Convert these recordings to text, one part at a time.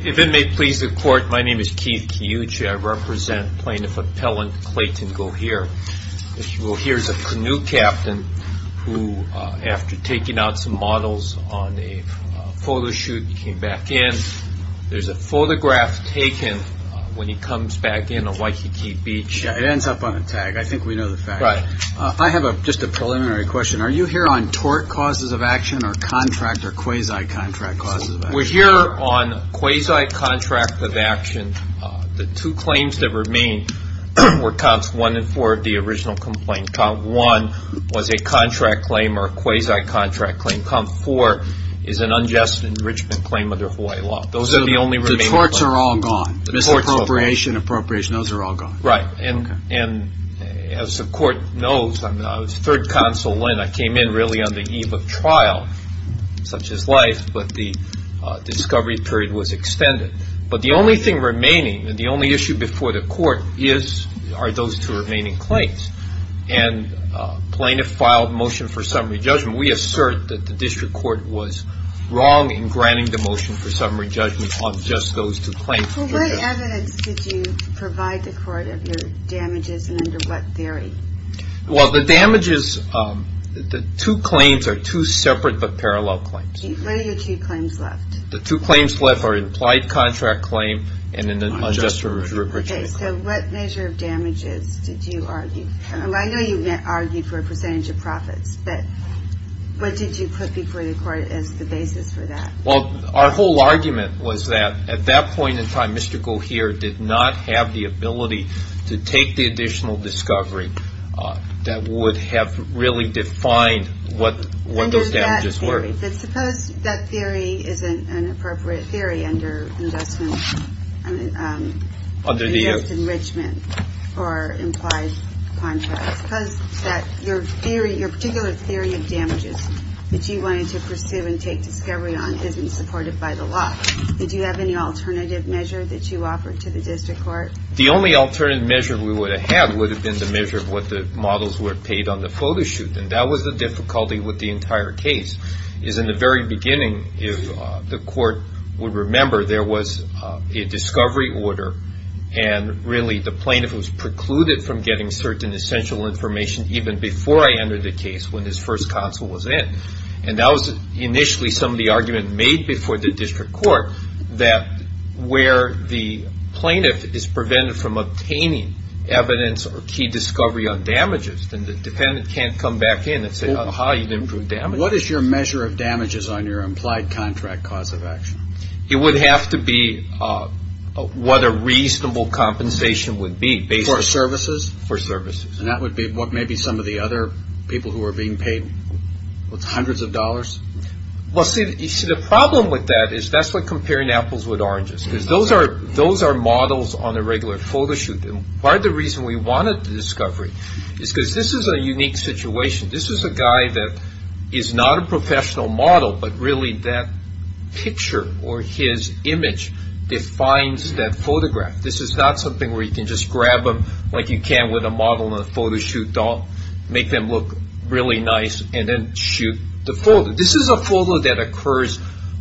If it may please the Court, my name is Keith Kiyuchi. I represent Plaintiff Appellant Clayton Gohier. Mr. Gohier is a canoe captain who, after taking out some models on a photo shoot, came back in. There's a photograph taken when he comes back in on Waikiki Beach. It ends up on a tag. I think we know the fact. I have just a preliminary question. Are you here on tort causes of action or contract or quasi-contract causes of action? We're here on quasi-contract of action. The two claims that remain were Comps 1 and 4 of the original complaint. Comp 1 was a contract claim or quasi-contract claim. Comp 4 is an enrichment claim under Hawaii law. Those are the only remaining claims. The courts are all gone. Misappropriation, appropriation, those are all gone. Right. And as the Court knows, I was third counsel when I came in really on the eve of trial, such as life, but the discovery period was extended. But the only thing remaining, the only issue before the Court, are those two remaining claims. And Plaintiff filed motion for wrong in granting the motion for summary judgment on just those two claims. So what evidence did you provide the Court of your damages and under what theory? Well, the damages, the two claims are two separate but parallel claims. What are your two claims left? The two claims left are implied contract claim and an unjust repatriation claim. So what measure of damages did you argue? I know you argued for a percentage of profits, but what did you put before the Court as the basis for that? Well, our whole argument was that at that point in time, Mr. Gohier did not have the ability to take the additional discovery that would have really defined what those damages were. But suppose that theory isn't an appropriate theory under unjust enrichment for implied contracts. Suppose that your theory, your particular theory of damages that you wanted to pursue and take discovery on isn't supported by the law. Did you have any alternative measure that you offered to the District Court? The only alternative measure we would have had would have been the measure of what the models were paid on the photo shoot. And that was the difficulty with the entire case, is in the very beginning, if the Court would remember, there was a discovery order. And really, the plaintiff was precluded from getting certain essential information, even before I entered the case when his first counsel was in. And that was initially some of the argument made before the District Court, that where the plaintiff is prevented from obtaining evidence or key discovery on damages, then the defendant can't come back in and say, aha, you've improved damage. What is your measure of damages on your implied contract cause of action? It would have to be what a reasonable compensation would be, based on... For services? For services. And that would be what maybe some of the other people who are being paid, what's, hundreds of dollars? Well, see, the problem with that is that's like comparing apples with oranges, because those are models on a regular photo shoot. And part of the reason we wanted the discovery is because this is a unique situation. This is a guy that is not a professional model, but really that picture or his image defines that photograph. This is not something where you can just grab them like you can with a model on a photo shoot doll, make them look really nice, and then shoot the photo. This is a photo that occurs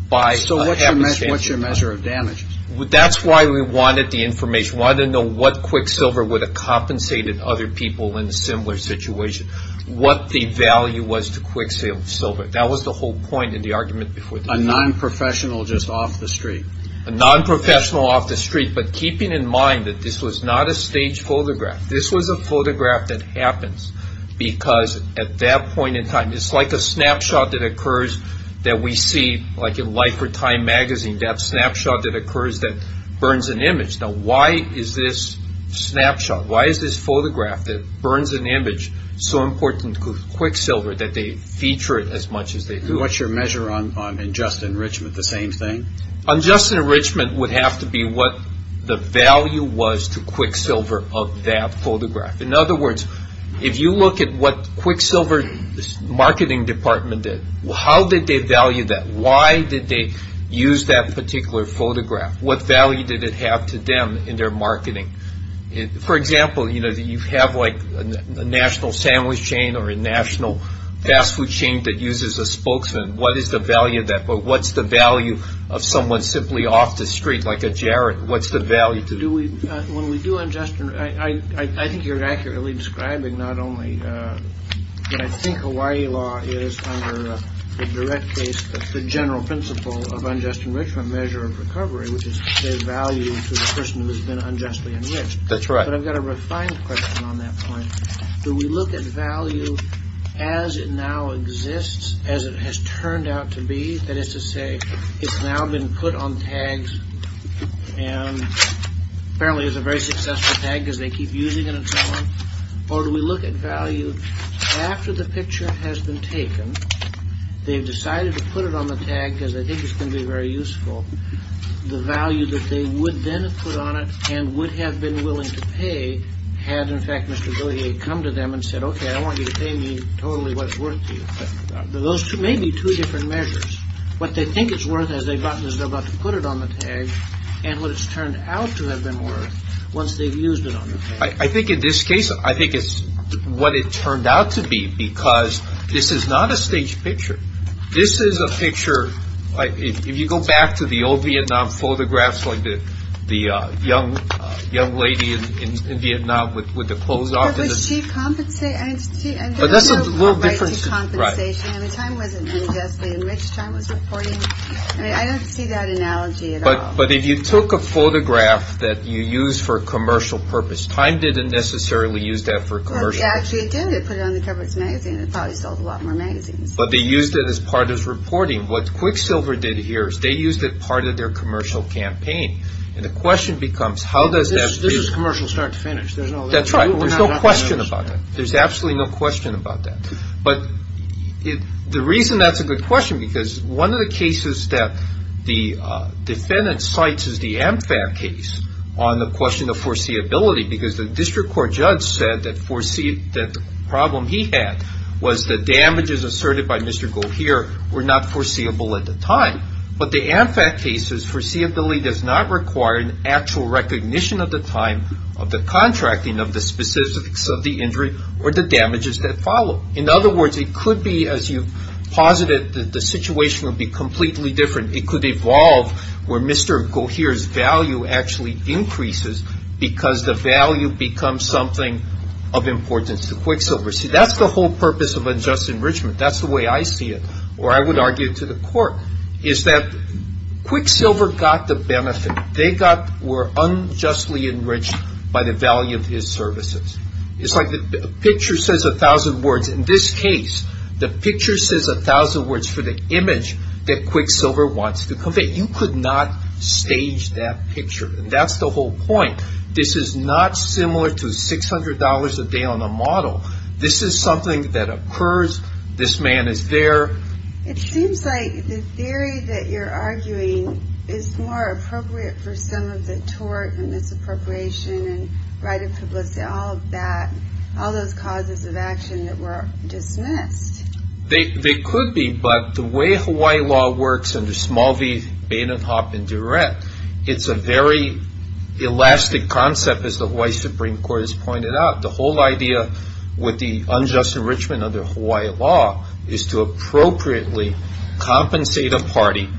by... So what's your measure of damages? That's why we wanted the information. We wanted to know what Quicksilver would have compensated other people in a similar situation. What the value was to Quicksilver. That was the whole point in the argument before the meeting. A non-professional just off the street? A non-professional off the street, but keeping in mind that this was not a staged photograph. This was a photograph that happens because at that point in time, it's like a snapshot that occurs that we see like in Life or Time magazine, that snapshot that occurs that burns an image. Now, why is this snapshot, why is this photograph that burns an image so important to Quicksilver that they feature it as much as they do? What's your measure on unjust enrichment, the same thing? Unjust enrichment would have to be what the value was to Quicksilver of that photograph. In other words, if you look at what Quicksilver's marketing department did, how did they value that? Why did they use that particular photograph? What value did it have to them in their marketing? For example, you have like a national sandwich chain or a national fast food chain that uses a spokesman. What is the value of that? But what's the value of someone simply off the street like a jarred? What's the value? When we do unjust enrichment, I think you're accurately describing not only what I think Hawaii law is under the direct case, but the general principle of unjust enrichment measure of recovery, which is to say value to the person who's been unjustly enriched. That's right. But I've got a refined question on that point. Do we look at value as it now exists, as it has turned out to be? That is to say, it's now been put on tags, and apparently it's a very successful tag because they keep using it and so on. Or do we look at value after the picture has been taken? They've decided to put it on the tag because they think it's going to be very useful. The value that they would then put on it and would have been willing to pay had, in fact, Mr. Billiard come to them and said, OK, I want you to pay me totally what's worth to you. Those two may be two different measures. What they think it's worth as they're about to put it on the tag and what it's turned out to have been worth once they've used it on. I think in this case, I think it's what it turned out to be, because this is not a staged picture. This is a picture, if you go back to the old Vietnam photographs, like the young lady in Vietnam with the clothes off. But she compensated, and there was no right to compensation. I mean, time wasn't unjustly enriched. Time was important. I mean, I don't see that analogy at all. But if you took a photograph that you use for commercial purpose, time didn't necessarily use that for commercial. Actually, it did. It put it on the cover of its magazine. It probably sold a lot more magazines. But they used it as part of its reporting. What Quicksilver did here is they used it part of their commercial campaign. And the question becomes, how does that feel? This is commercial start to finish. That's right. There's no question about it. There's absolutely no question about that. But the reason that's a good question, because one of the cases that the defendant cites is the AmFab case on the question of foreseeability, because the district court judge said that the problem he had was the damages asserted by Mr. Goheer were not foreseeable at the time. But the AmFab case's foreseeability does not require an actual recognition of the time of the contracting of the specifics of the injury or the damages that follow. In other words, it could be, as you've posited, that the situation would be completely different. It could evolve where Mr. Goheer's value actually increases because the value becomes something of importance to Quicksilver. See, that's the whole purpose of unjust enrichment. That's the way I see it. Or I would argue to the court is that Quicksilver got the benefit. They were unjustly enriched by the value of his services. It's like the picture says a thousand words. In this case, the picture says a thousand words for the image that Quicksilver wants to convey. You could not stage that picture. That's the whole point. This is not similar to $600 a day on a model. This is something that occurs. This man is there. It seems like the theory that you're arguing is more appropriate for some of the tort and misappropriation and right of publicity, all of that, all those causes of action that were dismissed. They could be, but the way Hawaii law works under Small v. Bain and Hopp and Durant, it's a very elastic concept, as the Hawaii Supreme Court has pointed out. The whole idea with the unjust enrichment under Hawaii law is to appropriately compensate a party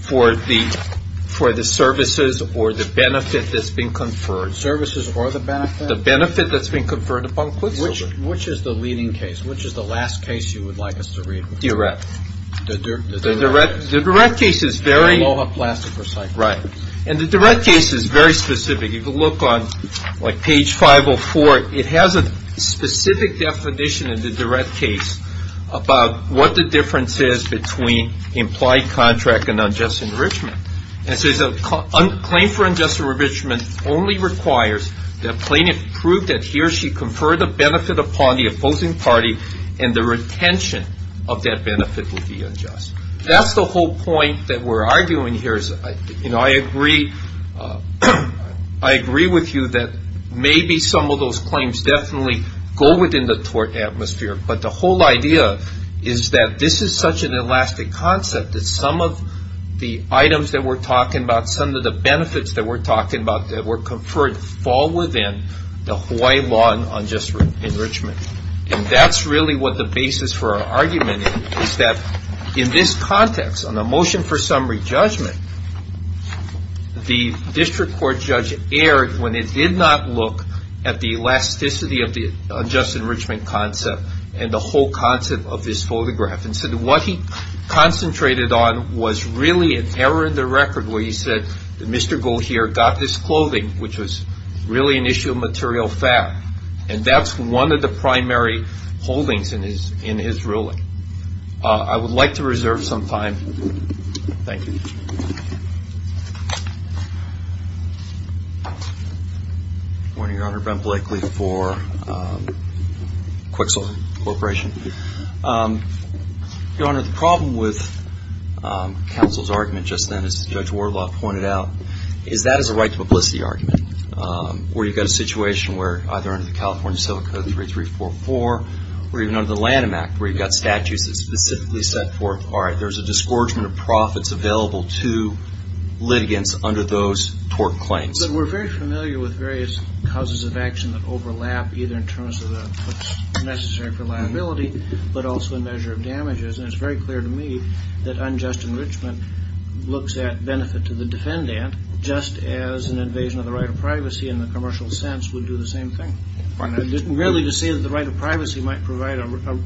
for the services or the benefit that's been conferred. Services or the benefit? The benefit that's been conferred upon Quicksilver. Which is the leading case? Which is the last case you would like us to read? The direct case. The direct case is very specific. If you look on page 504, it has a specific definition in the direct case about what the difference is between implied contract and unjust enrichment. It says, claim for unjust enrichment only requires that plaintiff prove that he or she conferred a benefit upon the opposing party and the retention of that benefit would be unjust. That's the whole point that we're arguing here. I agree with you that maybe some of those claims definitely go within the tort atmosphere, but the whole idea is that this is such an elastic concept that some of the items that we're talking about, some of the benefits that we're talking about that were conferred, fall within the Hawaii law on unjust enrichment. That's really what the basis for our argument is that in this context, on the motion for summary judgment, the district court judge erred when it did not look at the elasticity of the unjust enrichment concept and the whole concept of this photograph. What he concentrated on was really an error in the record where he said that Mr. Gohier got this clothing, which was really an issue of material fact, and that's one of the primary holdings in his ruling. I would like to reserve some time. Thank you. Good morning, Your Honor. Ben Blakely for Quixel Corporation. Your Honor, the problem with counsel's argument just then, as Judge Warloff pointed out, is that is a right to publicity argument where you've got a situation where either under the California Civil Code 3344 or even under the Lanham Act where you've got statutes that specifically set forth, all right, there's a disgorgement of profits available to litigants under those tort claims. But we're very familiar with various causes of action that overlap either in terms of what's necessary for liability but also a measure of damages. And it's very clear to me that unjust enrichment looks at benefit to the defendant just as an invasion of the right of privacy in the commercial sense would do the same thing. Really to say that the right of privacy might provide a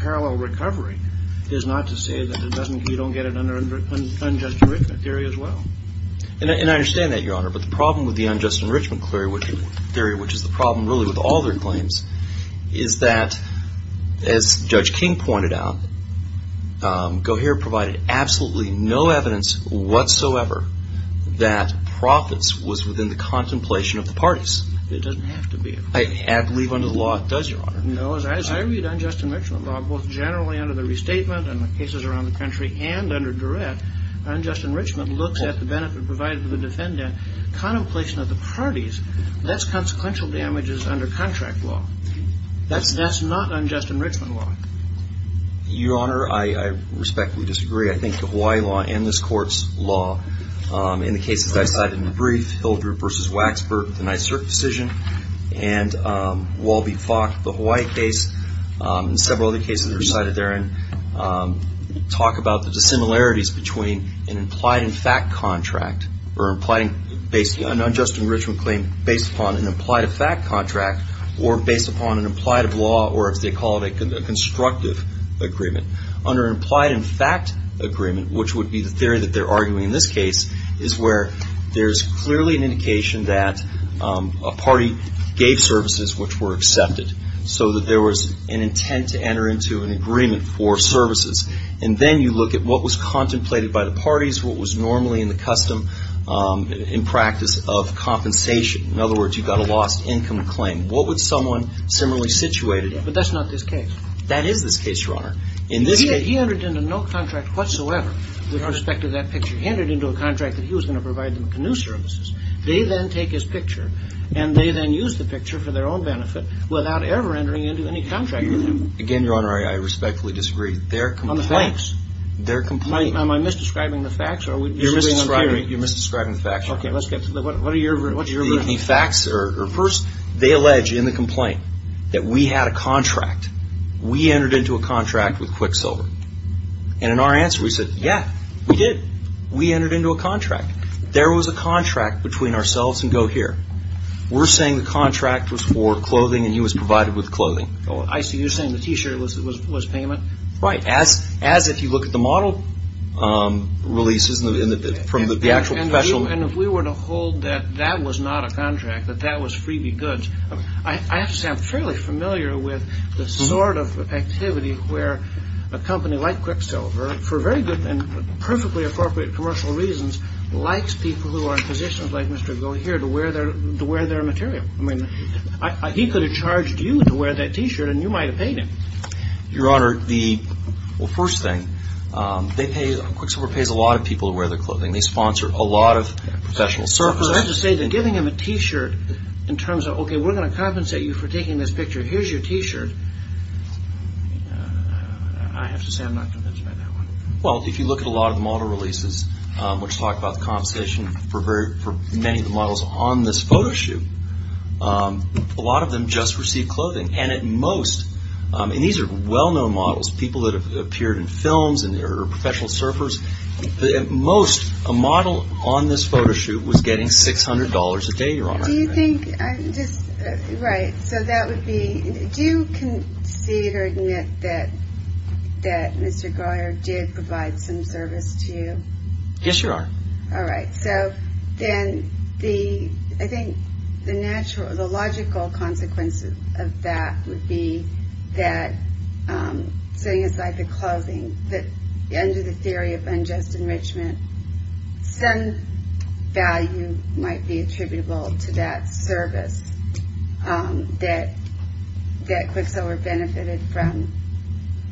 parallel recovery is not to say that you don't get an unjust enrichment theory as well. And I understand that, Your Honor, but the problem with the unjust enrichment theory, which is the problem really with all their claims, is that, as Judge King pointed out, Gohier provided absolutely no evidence whatsoever that profits was within the contemplation of the parties. It doesn't have to be. I believe under the law it does, Your Honor. No, as I read unjust enrichment law, both generally under the restatement and the cases around the country and under direct, unjust enrichment looks at the benefit provided to the defendant, contemplation of the parties, that's consequential damages under contract law. That's not unjust enrichment law. Your Honor, I respectfully disagree. I think the Hawaii law and this Court's law, in the cases I cited in the brief, Hildreth v. Waksberg, the NYSERC decision, and Walby-Fock, the Hawaii case, and several other cases recited therein, talk about the dissimilarities between an implied in fact contract or an unjust enrichment claim based upon an implied in fact contract or based upon an implied of law or, as they call it, a constructive agreement. Under an implied in fact agreement, which would be the theory that they're arguing in this case, is where there's clearly an indication that a party gave services which were accepted so that there was an intent to enter into an agreement for services. And then you look at what was contemplated by the parties, what was normally in the custom, in practice, of compensation. In other words, you got a lost income claim. What would someone similarly situated in? But that's not this case. That is this case, Your Honor. In this case, he entered into no contract whatsoever with respect to that picture. He entered into a contract that he was going to provide them canoe services. They then take his picture, and they then use the picture for their own benefit without ever entering into any contract with him. Again, Your Honor, I respectfully disagree. On the facts. Their complaint. Am I misdescribing the facts, or are we disagreeing on theory? You're misdescribing the facts, Your Honor. Okay, let's get to the, what are your, what's your version? The facts are, first, they allege in the complaint that we had a contract. We entered into a contract with Quicksilver. And in our answer, we said, yeah, we did. We entered into a contract. There was a contract between ourselves and GoHear. We're saying the contract was for clothing, and he was provided with clothing. I see, you're saying the t-shirt was payment? Right, as if you look at the model releases from the actual professional. And if we were to hold that that was not a contract, that that was freebie goods. I have to say, I'm fairly familiar with the sort of activity where a company like Quicksilver, for very good and perfectly appropriate commercial reasons, likes people who are in positions like Mr. GoHear to wear their material. I mean, he could have charged you to wear that t-shirt, and you might have paid him. Your Honor, the, well, first thing, they pay, Quicksilver pays a lot of people to wear their clothing. They sponsor a lot of professional services. So I have to say that giving him a t-shirt in terms of, okay, we're going to compensate you for taking this picture, here's your t-shirt, I have to say I'm not convinced by that one. Well, if you look at a lot of the model releases, which talk about the compensation for many of the models on this photo shoot, a lot of them just received clothing, and at most, and these are well-known models, people that have appeared in films and are professional surfers, at most, a model on this photo shoot was getting $600 a day, Your Honor. Do you think, I'm just, right, so that would be, do you concede or admit that Mr. GoHear did provide some service to you? Yes, Your Honor. All right, so then the, I think the logical consequence of that would be that, setting aside the clothing, that under the theory of unjust enrichment, some value might be attributable to that service that Quicksilver benefited from.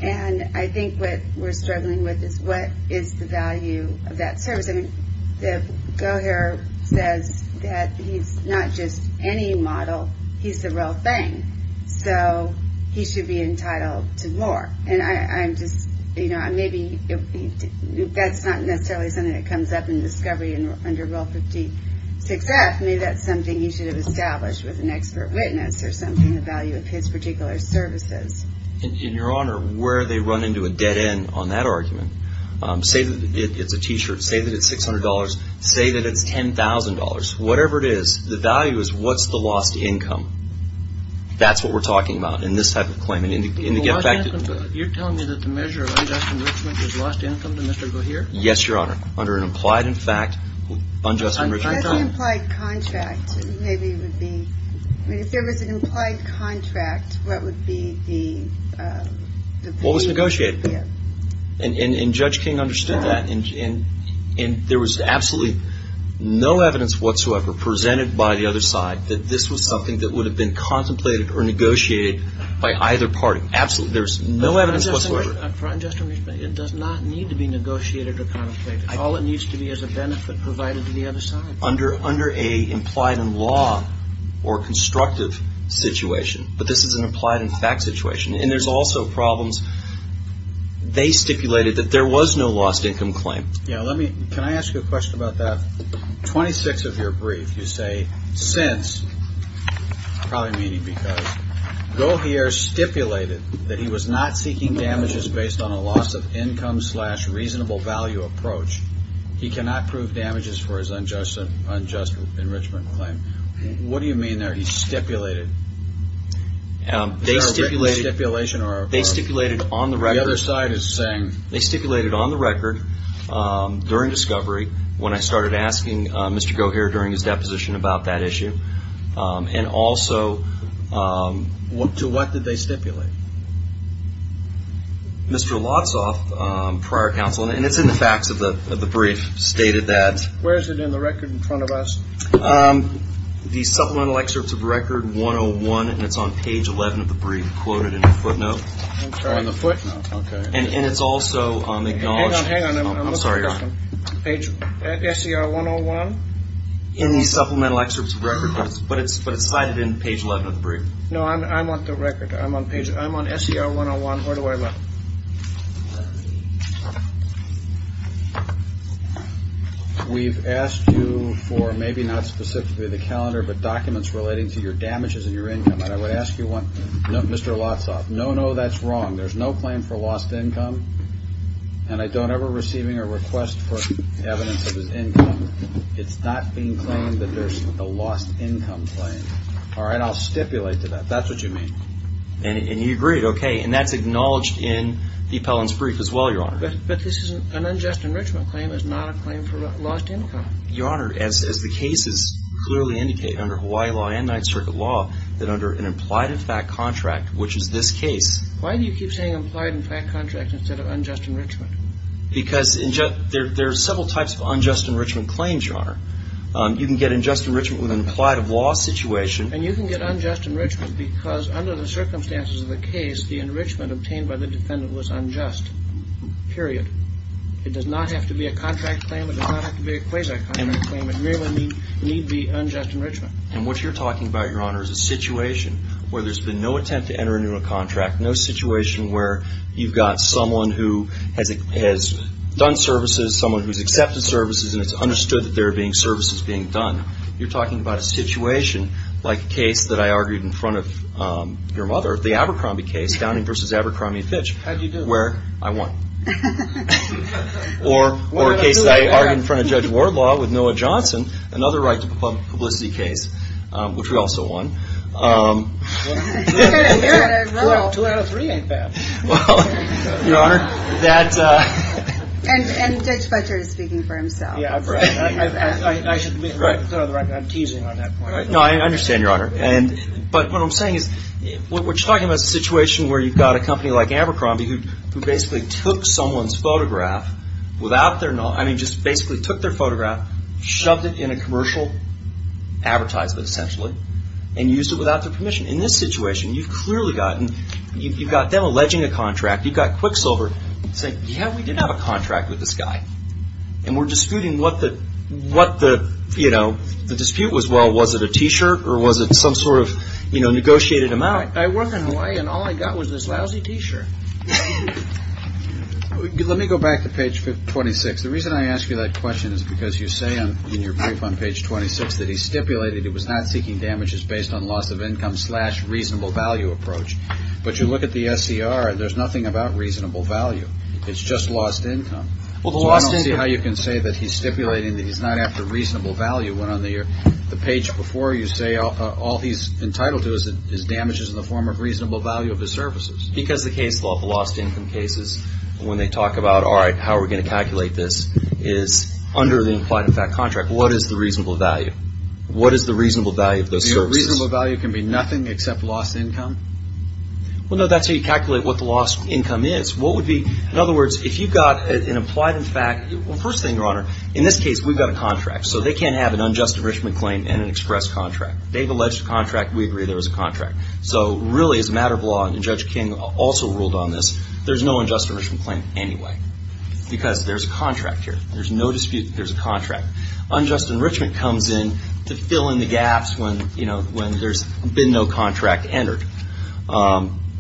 And I think what we're struggling with is what is the value of that service? I mean, GoHear says that he's not just any model, he's the real thing. So he should be entitled to more. And I'm just, you know, maybe that's not necessarily something that comes up in discovery under Rule 56F, maybe that's something he should have established with an expert witness or something, the value of his particular services. And Your Honor, where they run into a dead end on that argument, say that it's a t-shirt, say that it's $600, say that it's $10,000, whatever it is, the value is what's the lost income? That's what we're talking about in this type of claim and to get affected. You're telling me that the measure of unjust enrichment is lost income to Mr. GoHear? Yes, Your Honor, under an implied, in fact, unjust enrichment. As an implied contract, maybe it would be, I mean, if there was an implied contract, what would be the value? Well, it's negotiated. And Judge King understood that. And there was absolutely no evidence whatsoever presented by the other side that this was something that would have been contemplated or negotiated by either party. Absolutely, there's no evidence whatsoever. For unjust enrichment, it does not need to be negotiated or contemplated. All it needs to be is a benefit provided to the other side. Under a implied in law or constructive situation, but this is an implied in fact situation. And there's also problems, they stipulated that there was no lost income claim. Yeah, let me, can I ask you a question about that? Twenty-six of your brief, you say, since, probably meaning because, GoHear stipulated that he was not seeking damages based on a loss of income, slash, reasonable value approach. He cannot prove damages for his unjust enrichment claim. What do you mean there, he stipulated? They stipulated, they stipulated on the record, they stipulated on the record during discovery when I started asking Mr. GoHear during his deposition about that issue. And also, to what did they stipulate? Mr. Lotsoff, prior counsel, and it's in the facts of the brief, stated that. Where is it in the record in front of us? The supplemental excerpts of record 101, and it's on page 11 of the brief, quoted in the footnote. On the footnote, okay. And it's also on the acknowledgement. Hang on, hang on, I'm looking for this one, page, SCR 101. In the supplemental excerpts of record, but it's cited in page 11 of the brief. No, I'm on the record, I'm on page, I'm on SCR 101, where do I look? We've asked you for, maybe not specifically the calendar, but documents relating to your damages and your income. And I would ask you one, Mr. Lotsoff, no, no, that's wrong. There's no claim for lost income. And I don't ever receiving a request for evidence of his income. It's not being claimed that there's a lost income claim. All right, I'll stipulate to that. That's what you mean. And you agreed, okay. And that's acknowledged in the Pellon's brief as well, Your Honor. But this is an unjust enrichment claim, it's not a claim for lost income. Your Honor, as the cases clearly indicate under Hawaii law and Ninth Circuit law, that under an implied effect contract, which is this case. Why do you keep saying implied contract instead of unjust enrichment? Because there are several types of unjust enrichment claims, Your Honor. You can get unjust enrichment with an implied of loss situation. And you can get unjust enrichment because under the circumstances of the case, the enrichment obtained by the defendant was unjust, period. It does not have to be a contract claim, it does not have to be a quasi-contract claim. It merely need be unjust enrichment. And what you're talking about, Your Honor, is a situation where there's been no attempt to enter into a contract, no situation where you've got someone who has done services, someone who's accepted services, and it's understood that there are services being done. You're talking about a situation like a case that I argued in front of your mother, the Abercrombie case, Downing v. Abercrombie & Fitch. How'd you do? Where I won. Or a case that I argued in front of Judge Wardlaw with Noah Johnson, another right to publicity case, which we also won. Two out of three ain't bad. And Judge Fletcher is speaking for himself. Yeah, I should be clear on the record, I'm teasing on that point. No, I understand, Your Honor. But what I'm saying is, what you're talking about is a situation where you've got a company like Abercrombie who basically took someone's photograph without their knowledge, I mean, just basically took their photograph, shoved it in a commercial advertisement, essentially, and used it without their permission. In this situation, you've clearly got them alleging a contract. You've got Quicksilver saying, yeah, we did have a contract with this guy. And we're disputing what the dispute was. Well, was it a t-shirt, or was it some sort of negotiated amount? I work in Hawaii, and all I got was this lousy t-shirt. Let me go back to page 26. The reason I ask you that question is because you say in your brief on page 26 that he stipulated he was not seeking damages based on loss of income, slash, reasonable value approach. But you look at the SCR, and there's nothing about reasonable value. It's just lost income. Well, the lost income... I don't see how you can say that he's stipulating that he's not after reasonable value when on the page before you say all he's entitled to is damages in the form of reasonable value of his services. Because the case law, the lost income cases, when they talk about, all right, how are we going to calculate this, is under the implied effect contract. What is the reasonable value? What is the reasonable value of those services? Do you know reasonable value can be nothing except lost income? Well, no. That's how you calculate what the lost income is. What would be... In other words, if you've got an implied effect... Well, first thing, Your Honor, in this case, we've got a contract. So they can't have an unjust enrichment claim and an express contract. They've alleged a contract. We agree there was a contract. So really, as a matter of law, and Judge King also ruled on this, there's no unjust enrichment claim anyway. Because there's a contract here. There's no dispute that there's a contract. Unjust enrichment comes in to fill in the gaps when, you know, when there's been no contract entered.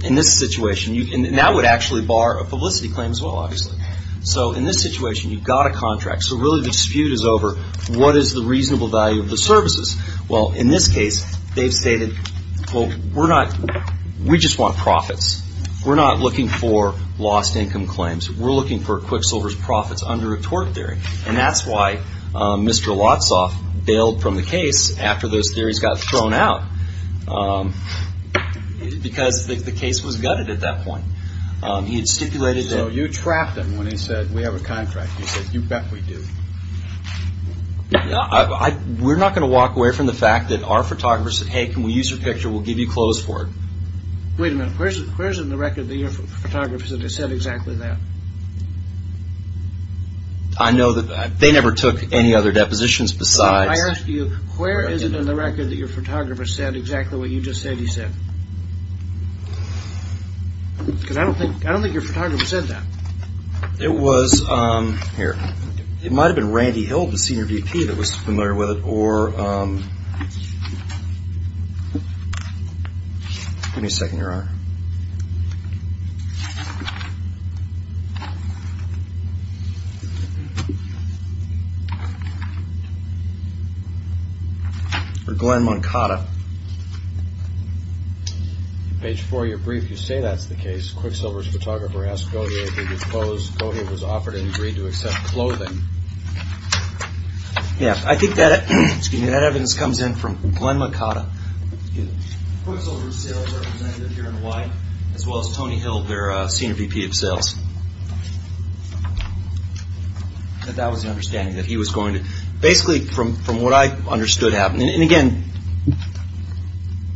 In this situation, and that would actually bar a publicity claim as well, obviously. So in this situation, you've got a contract. So really, the dispute is over what is the reasonable value of the services? Well, in this case, they've stated, well, we're not... We just want profits. We're not looking for lost income claims. We're looking for Quicksilver's profits under a tort theory. And that's why Mr. Lotsoff bailed from the case after those theories got thrown out. Because the case was gutted at that point. He had stipulated... So you trapped him when he said, we have a contract. You said, you bet we do. We're not going to walk away from the fact that our photographer said, hey, can we use your picture? We'll give you clothes for it. Wait a minute. Where's in the record that your photographer said exactly that? I know that they never took any other depositions besides... I asked you, where is it in the record that your photographer said exactly what you just said he said? Because I don't think your photographer said that. It was... Here. It might have been Randy Hill, the senior VP that was familiar with it, or... Give me a second, Your Honor. Or Glenn Moncada. Page four of your brief, you say that's the case. Quicksilver's photographer asked Gautier if he could pose. Gautier was offered and agreed to accept clothing. Yeah, I think that, excuse me, that evidence comes in from Glenn Moncada. Excuse me. Quicksilver's sales representative here in Hawaii, as well as Tony Hill, their senior VP of sales. And that was the understanding that he was going to... Basically, from what I understood happened. And again,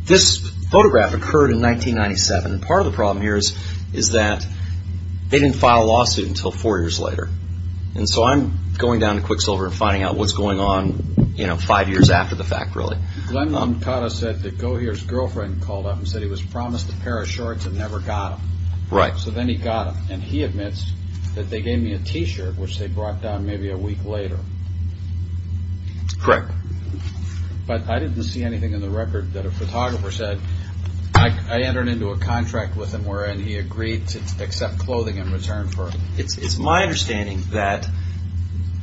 this photograph occurred in 1997. And part of the problem here is that they didn't file a lawsuit until four years later. And so I'm going down to Quicksilver and finding out what's going on, you know, five years after the fact, really. Glenn Moncada said that Gautier's girlfriend called up and said he was promised a pair of shorts and never got them. Right. So then he got them. And he admits that they gave me a T-shirt, which they brought down maybe a week later. Correct. But I didn't see anything in the record that a photographer said. I entered into a contract with him wherein he agreed to accept clothing in return for it. It's my understanding that,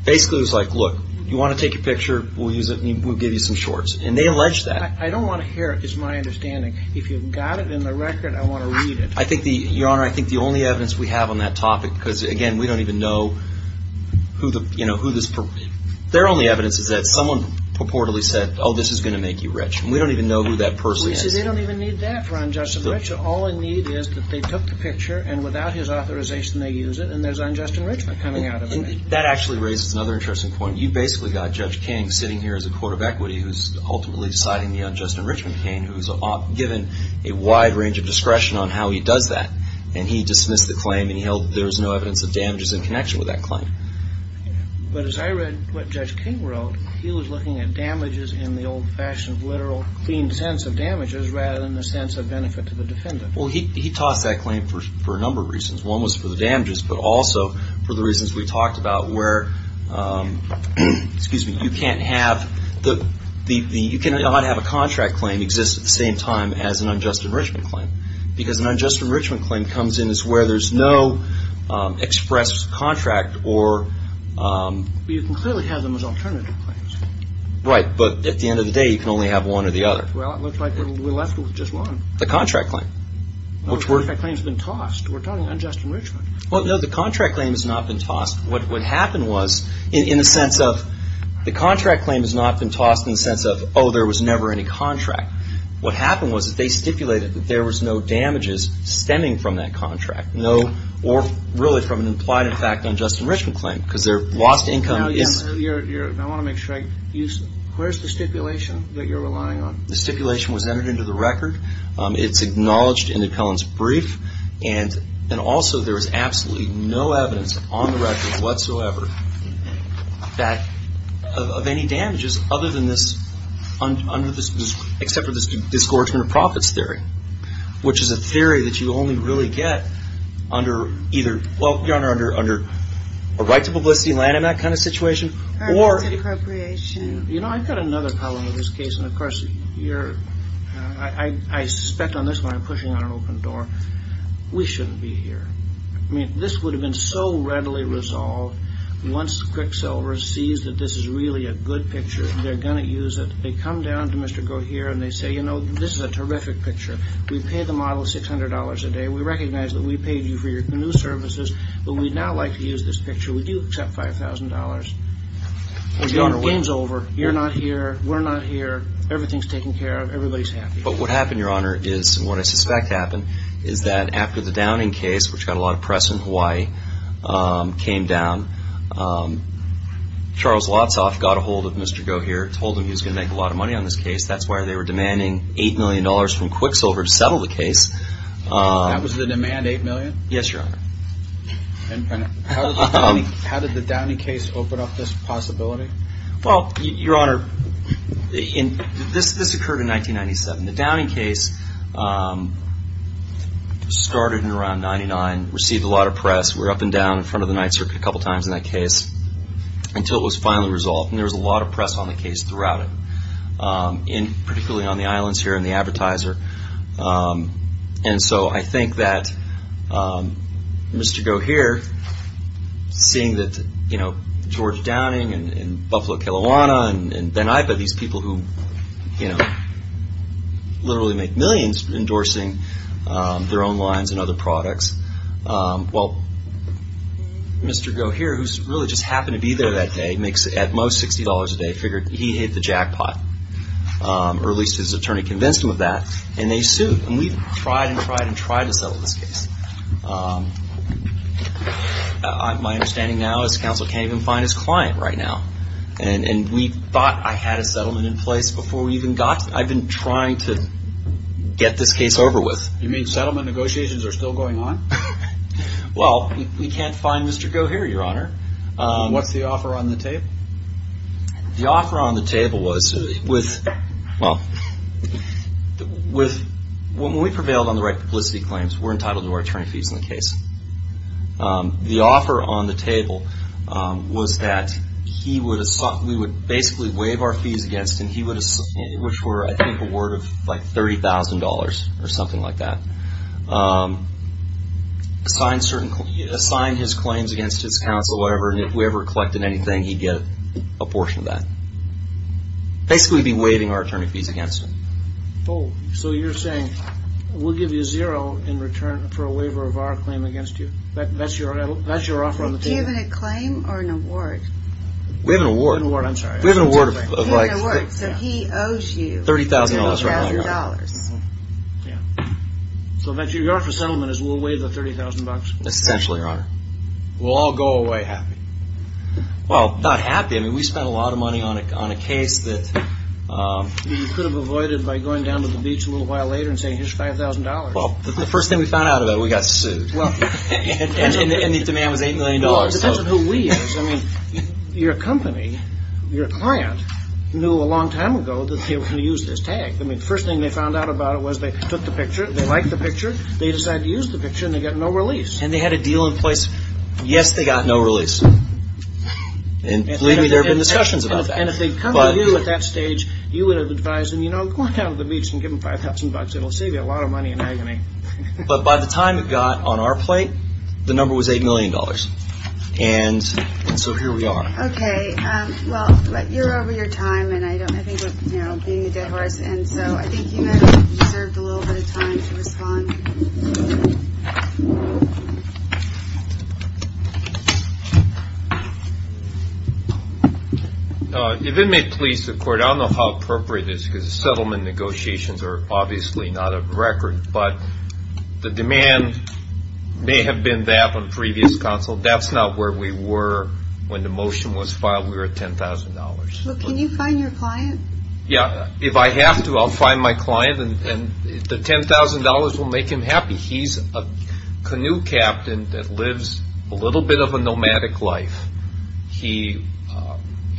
basically, it was like, look, you want to take a picture, we'll use it, we'll give you some shorts. And they alleged that. I don't want to hear, it's my understanding. If you've got it in the record, I want to read it. Your Honor, I think the only evidence we have on that topic, because, again, we don't even know who the, you know, who this, their only evidence is that someone purportedly said, oh, this is going to make you rich. And we don't even know who that person is. They don't even need that for unjust enrichment. All they need is that they took the picture, and without his authorization, they use it, and there's unjust enrichment coming out of it. That actually raises another interesting point. You basically got Judge King sitting here as a court of equity who's ultimately deciding the unjust enrichment claim, who's given a wide range of discretion on how he does that. And he dismissed the claim, and he held there was no evidence of damages in connection with that claim. But as I read what Judge King wrote, he was looking at damages in the old-fashioned, literal, clean sense of damages, rather than the sense of benefit to the defendant. Well, he tossed that claim for a number of reasons. Excuse me. You can't have the, you cannot have a contract claim exist at the same time as an unjust enrichment claim, because an unjust enrichment claim comes in as where there's no express contract or. You can clearly have them as alternative claims. Right. But at the end of the day, you can only have one or the other. Well, it looks like we're left with just one. The contract claim. The contract claim's been tossed. We're talking unjust enrichment. Well, no, the contract claim has not been tossed. What happened was, in the sense of, the contract claim has not been tossed in the sense of, oh, there was never any contract. What happened was that they stipulated that there was no damages stemming from that contract, no, or really from an implied effect on an unjust enrichment claim, because their lost income is. I want to make sure I, where's the stipulation that you're relying on? The stipulation was entered into the record. It's acknowledged in the Cullen's brief. And also, there was absolutely no evidence on the record whatsoever that, of any damages other than this, under this, except for this disgorgement of profits theory, which is a theory that you only really get under either, well, Your Honor, under a right to publicity land in that kind of situation. Or. You know, I've got another problem with this case. And of course, you're, I suspect on this one I'm pushing on an open door. We shouldn't be here. I mean, this would have been so readily resolved once Quicksilver sees that this is really a good picture. They're going to use it. They come down to Mr. Gohere, and they say, you know, this is a terrific picture. We pay the model $600 a day. We recognize that we paid you for your canoe services, but we'd now like to use this picture. Would you accept $5,000? And the game's over. You're not here. We're not here. Everything's taken care of. Everybody's happy. But what happened, Your Honor, is what I suspect happened is that after the Downing case, which got a lot of press in Hawaii, came down, Charles Lotsoff got a hold of Mr. Gohere, told him he was going to make a lot of money on this case. That's why they were demanding $8 million from Quicksilver to settle the case. That was the demand, $8 million? Yes, Your Honor. How did the Downing case open up this possibility? Well, Your Honor, this occurred in 1997. The Downing case started in around 1999, received a lot of press. We were up and down in front of the Ninth Circuit a couple times in that case until it was finally resolved. And there was a lot of press on the case throughout it, particularly on the islands here and the advertiser. And so I think that Mr. Gohere, seeing that, you know, George Downing and Buffalo Kelowna and Beniva, these people who, you know, literally make millions endorsing their own lines and other products. Well, Mr. Gohere, who really just happened to be there that day, makes at most $60 a day, figured he hit the jackpot. Or at least his attorney convinced him of that. And they sued. And we tried and tried and tried to settle this case. My understanding now is counsel can't even find his client right now. And we thought I had a settlement in place before we even got to it. I've been trying to get this case over with. You mean settlement negotiations are still going on? Well, we can't find Mr. Gohere, Your Honor. What's the offer on the table? The offer on the table was with, well, when we prevailed on the right publicity claims, we're entitled to our attorney fees in the case. The offer on the table was that we would basically waive our fees against him, which were, I think, a word of like $30,000 or something like that. Assign his claims against his counsel, whatever. And if we ever collected anything, he'd get a portion of that. Basically be waiving our attorney fees against him. Oh, so you're saying we'll give you zero in return for a waiver of our claim against you? That's your offer on the table? Do you have a claim or an award? We have an award. An award, I'm sorry. We have an award of like... An award, so he owes you $30,000. So your offer of settlement is we'll waive the $30,000? Essentially, Your Honor. We'll all go away happy. Well, not happy. I mean, we spent a lot of money on a case that... You could have avoided by going down to the beach a little while later and saying, here's $5,000. Well, the first thing we found out about it, we got sued. And the demand was $8 million. Well, it depends on who we is. I mean, your company, your client, knew a long time ago that they were going to use this tag. I mean, the first thing they found out about it was they took the picture. They liked the picture. They decided to use the picture, and they got no release. And they had a deal in place. Yes, they got no release. And believe me, there have been discussions about that. And if they'd come to you at that stage, you would have advised them, you know, go on down to the beach and give them $5,000. It'll save you a lot of money and agony. But by the time it got on our plate, the number was $8 million. And so here we are. Okay. Well, you're over your time, and I don't think we're being a dead horse. If it may please the court, I don't know how appropriate it is because the settlement negotiations are obviously not a record. But the demand may have been that on previous counsel. That's not where we were when the motion was filed. We were at $10,000. Well, can you find your client? Yeah. If I have to, I'll find my client, and the $10,000 will make him happy. He's a canoe captain that lives a little bit of a nomadic life. He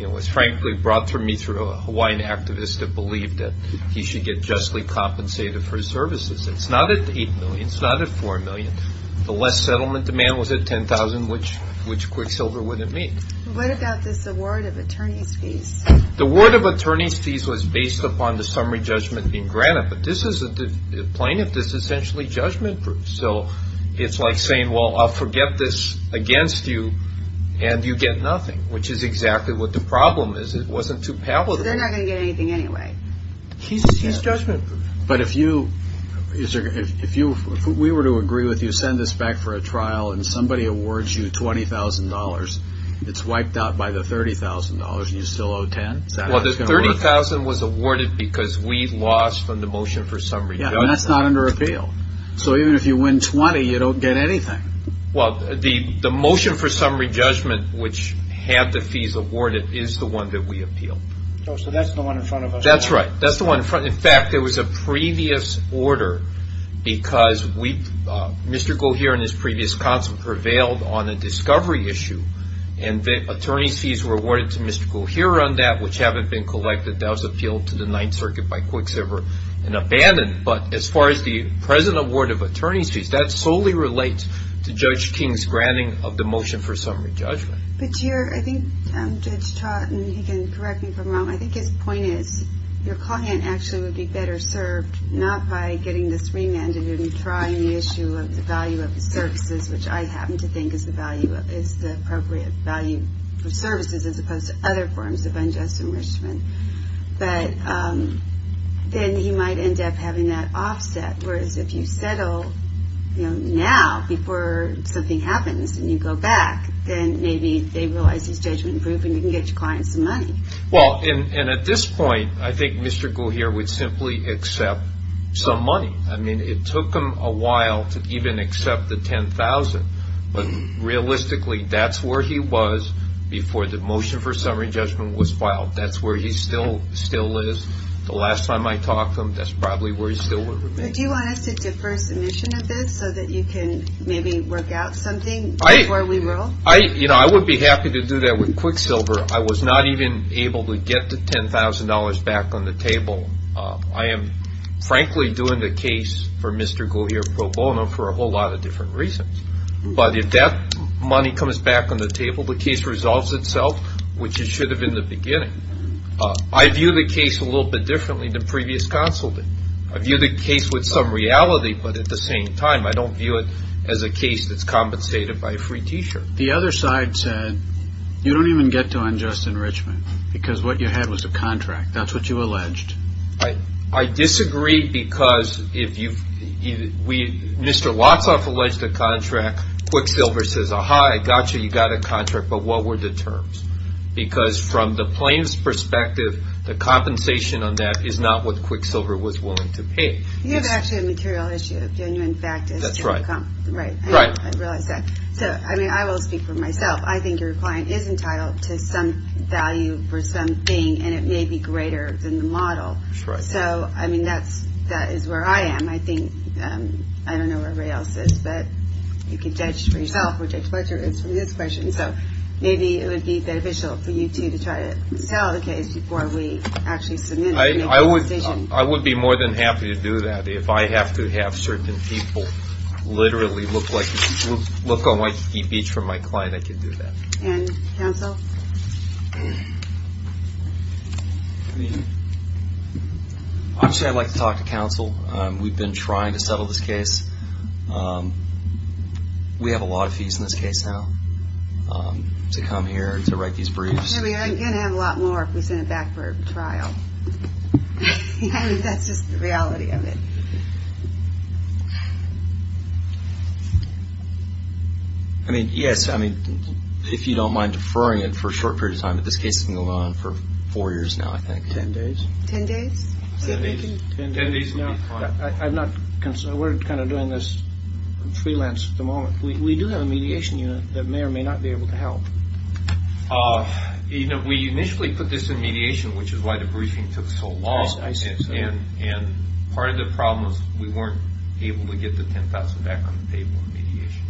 was frankly brought to me through a Hawaiian activist that believed that he should get justly compensated for his services. It's not at $8 million. It's not at $4 million. The less settlement demand was at $10,000, which Quicksilver wouldn't meet. What about this award of attorney's fees? The award of attorney's fees was based upon the summary judgment being granted, but this isn't a plaintiff. This is essentially judgment-proof. So it's like saying, well, I'll forget this against you, and you get nothing, which is exactly what the problem is. It wasn't too palatable. They're not going to get anything anyway. He's judgment-proof. But if we were to agree with you, send this back for a trial, and somebody awards you $20,000, it's wiped out by the $30,000, and you still owe $10,000? Is that how it's going to work? The $30,000 was awarded because we lost on the motion for summary judgment. And that's not under appeal. So even if you win $20,000, you don't get anything. Well, the motion for summary judgment, which had the fees awarded, is the one that we appealed. So that's the one in front of us? That's right. That's the one in front. In fact, there was a previous order because Mr. Goheer and his previous counsel prevailed on a discovery issue, and attorney's fees were awarded to Mr. Goheer on that, which haven't been collected. That was appealed to the Ninth Circuit by Quicksilver and abandoned. But as far as the present award of attorney's fees, that solely relates to Judge King's granting of the motion for summary judgment. But, Chair, I think Judge Trott, and he can correct me if I'm wrong, I think his point is your client actually would be better served not by getting this remanded and trying the issue of the value of the services, which I happen to think is the appropriate value for services as opposed to other forms of unjust enrichment. But then he might end up having that offset. Whereas if you settle now before something happens and you go back, then maybe they realize his judgment improved and you can get your client some money. Well, and at this point, I think Mr. Goheer would simply accept some money. I mean, it took him a while to even accept the $10,000, but realistically, that's where he was before the motion for summary judgment was filed. That's where he still is. The last time I talked to him, that's probably where he still would remain. Do you want us to defer submission of this so that you can maybe work out something before we roll? I would be happy to do that with Quicksilver. I was not even able to get the $10,000 back on the table. I am frankly doing the case for Mr. Goheer pro bono for a whole lot of different reasons. But if that money comes back on the table, the case resolves itself, which it should have in the beginning. I view the case a little bit differently than previous counsel did. I view the case with some reality, but at the same time, I don't view it as a case that's compensated by a free t-shirt. The other side said, you don't even get to unjust enrichment because what you had was a contract. That's what you alleged. I disagree because Mr. Lotsoff alleged a contract. Quicksilver says, aha, I got you. You got a contract. But what were the terms? Because from the plaintiff's perspective, the compensation on that is not what Quicksilver was willing to pay. You have actually a material issue, a genuine fact issue. That's right. Right, I realize that. I will speak for myself. I think your client is entitled to some value for something, and it may be greater than the model. That's right. So, I mean, that is where I am. I think, I don't know where everybody else is, but you can judge for yourself, which I expect is from this question. So maybe it would be beneficial for you two to try to sell the case before we actually submit it and make a decision. I would be more than happy to do that. If I have to have certain people literally look like, look on my speech from my client, I can do that. And counsel? I mean, obviously, I'd like to talk to counsel. We've been trying to settle this case. We have a lot of fees in this case now to come here to write these briefs. I mean, I'm going to have a lot more if we send it back for a trial. I mean, that's just the reality of it. I mean, yes, I mean, if you don't mind deferring it for a short period of time, this case can go on for four years now, I think. Ten days? Ten days. Ten days would be fine. I'm not concerned. We're kind of doing this freelance at the moment. We do have a mediation unit that may or may not be able to help. We initially put this in mediation, which is why the briefing took so long. And part of the problem was we weren't able to get the $10,000 back on the table in mediation.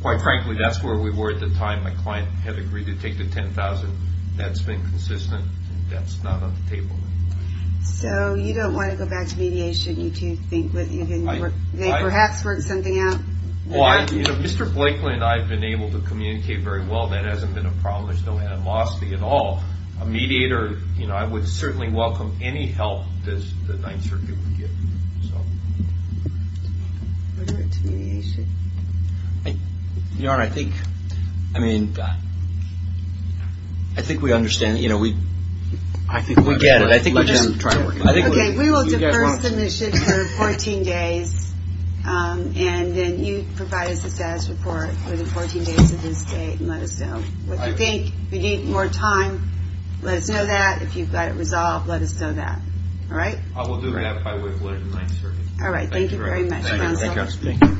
Quite frankly, that's where we were at the time my client had agreed to take the $10,000 That's been consistent. That's not on the table. So you don't want to go back to mediation? You think they perhaps worked something out? Mr. Blakely and I have been able to communicate very well. That hasn't been a problem. There's no animosity at all. A mediator, I would certainly welcome any help that the Ninth Circuit would give. What about to mediation? Your Honor, I think, I mean, I think we understand, you know, we get it. I think we just try to work it out. Okay, we will defer submission for 14 days. And then you provide us a status report for the 14 days of his stay and let us know what you think. If you need more time, let us know that. If you've got it resolved, let us know that. All right? I will do that by way of the Ninth Circuit. All right. Thank you very much.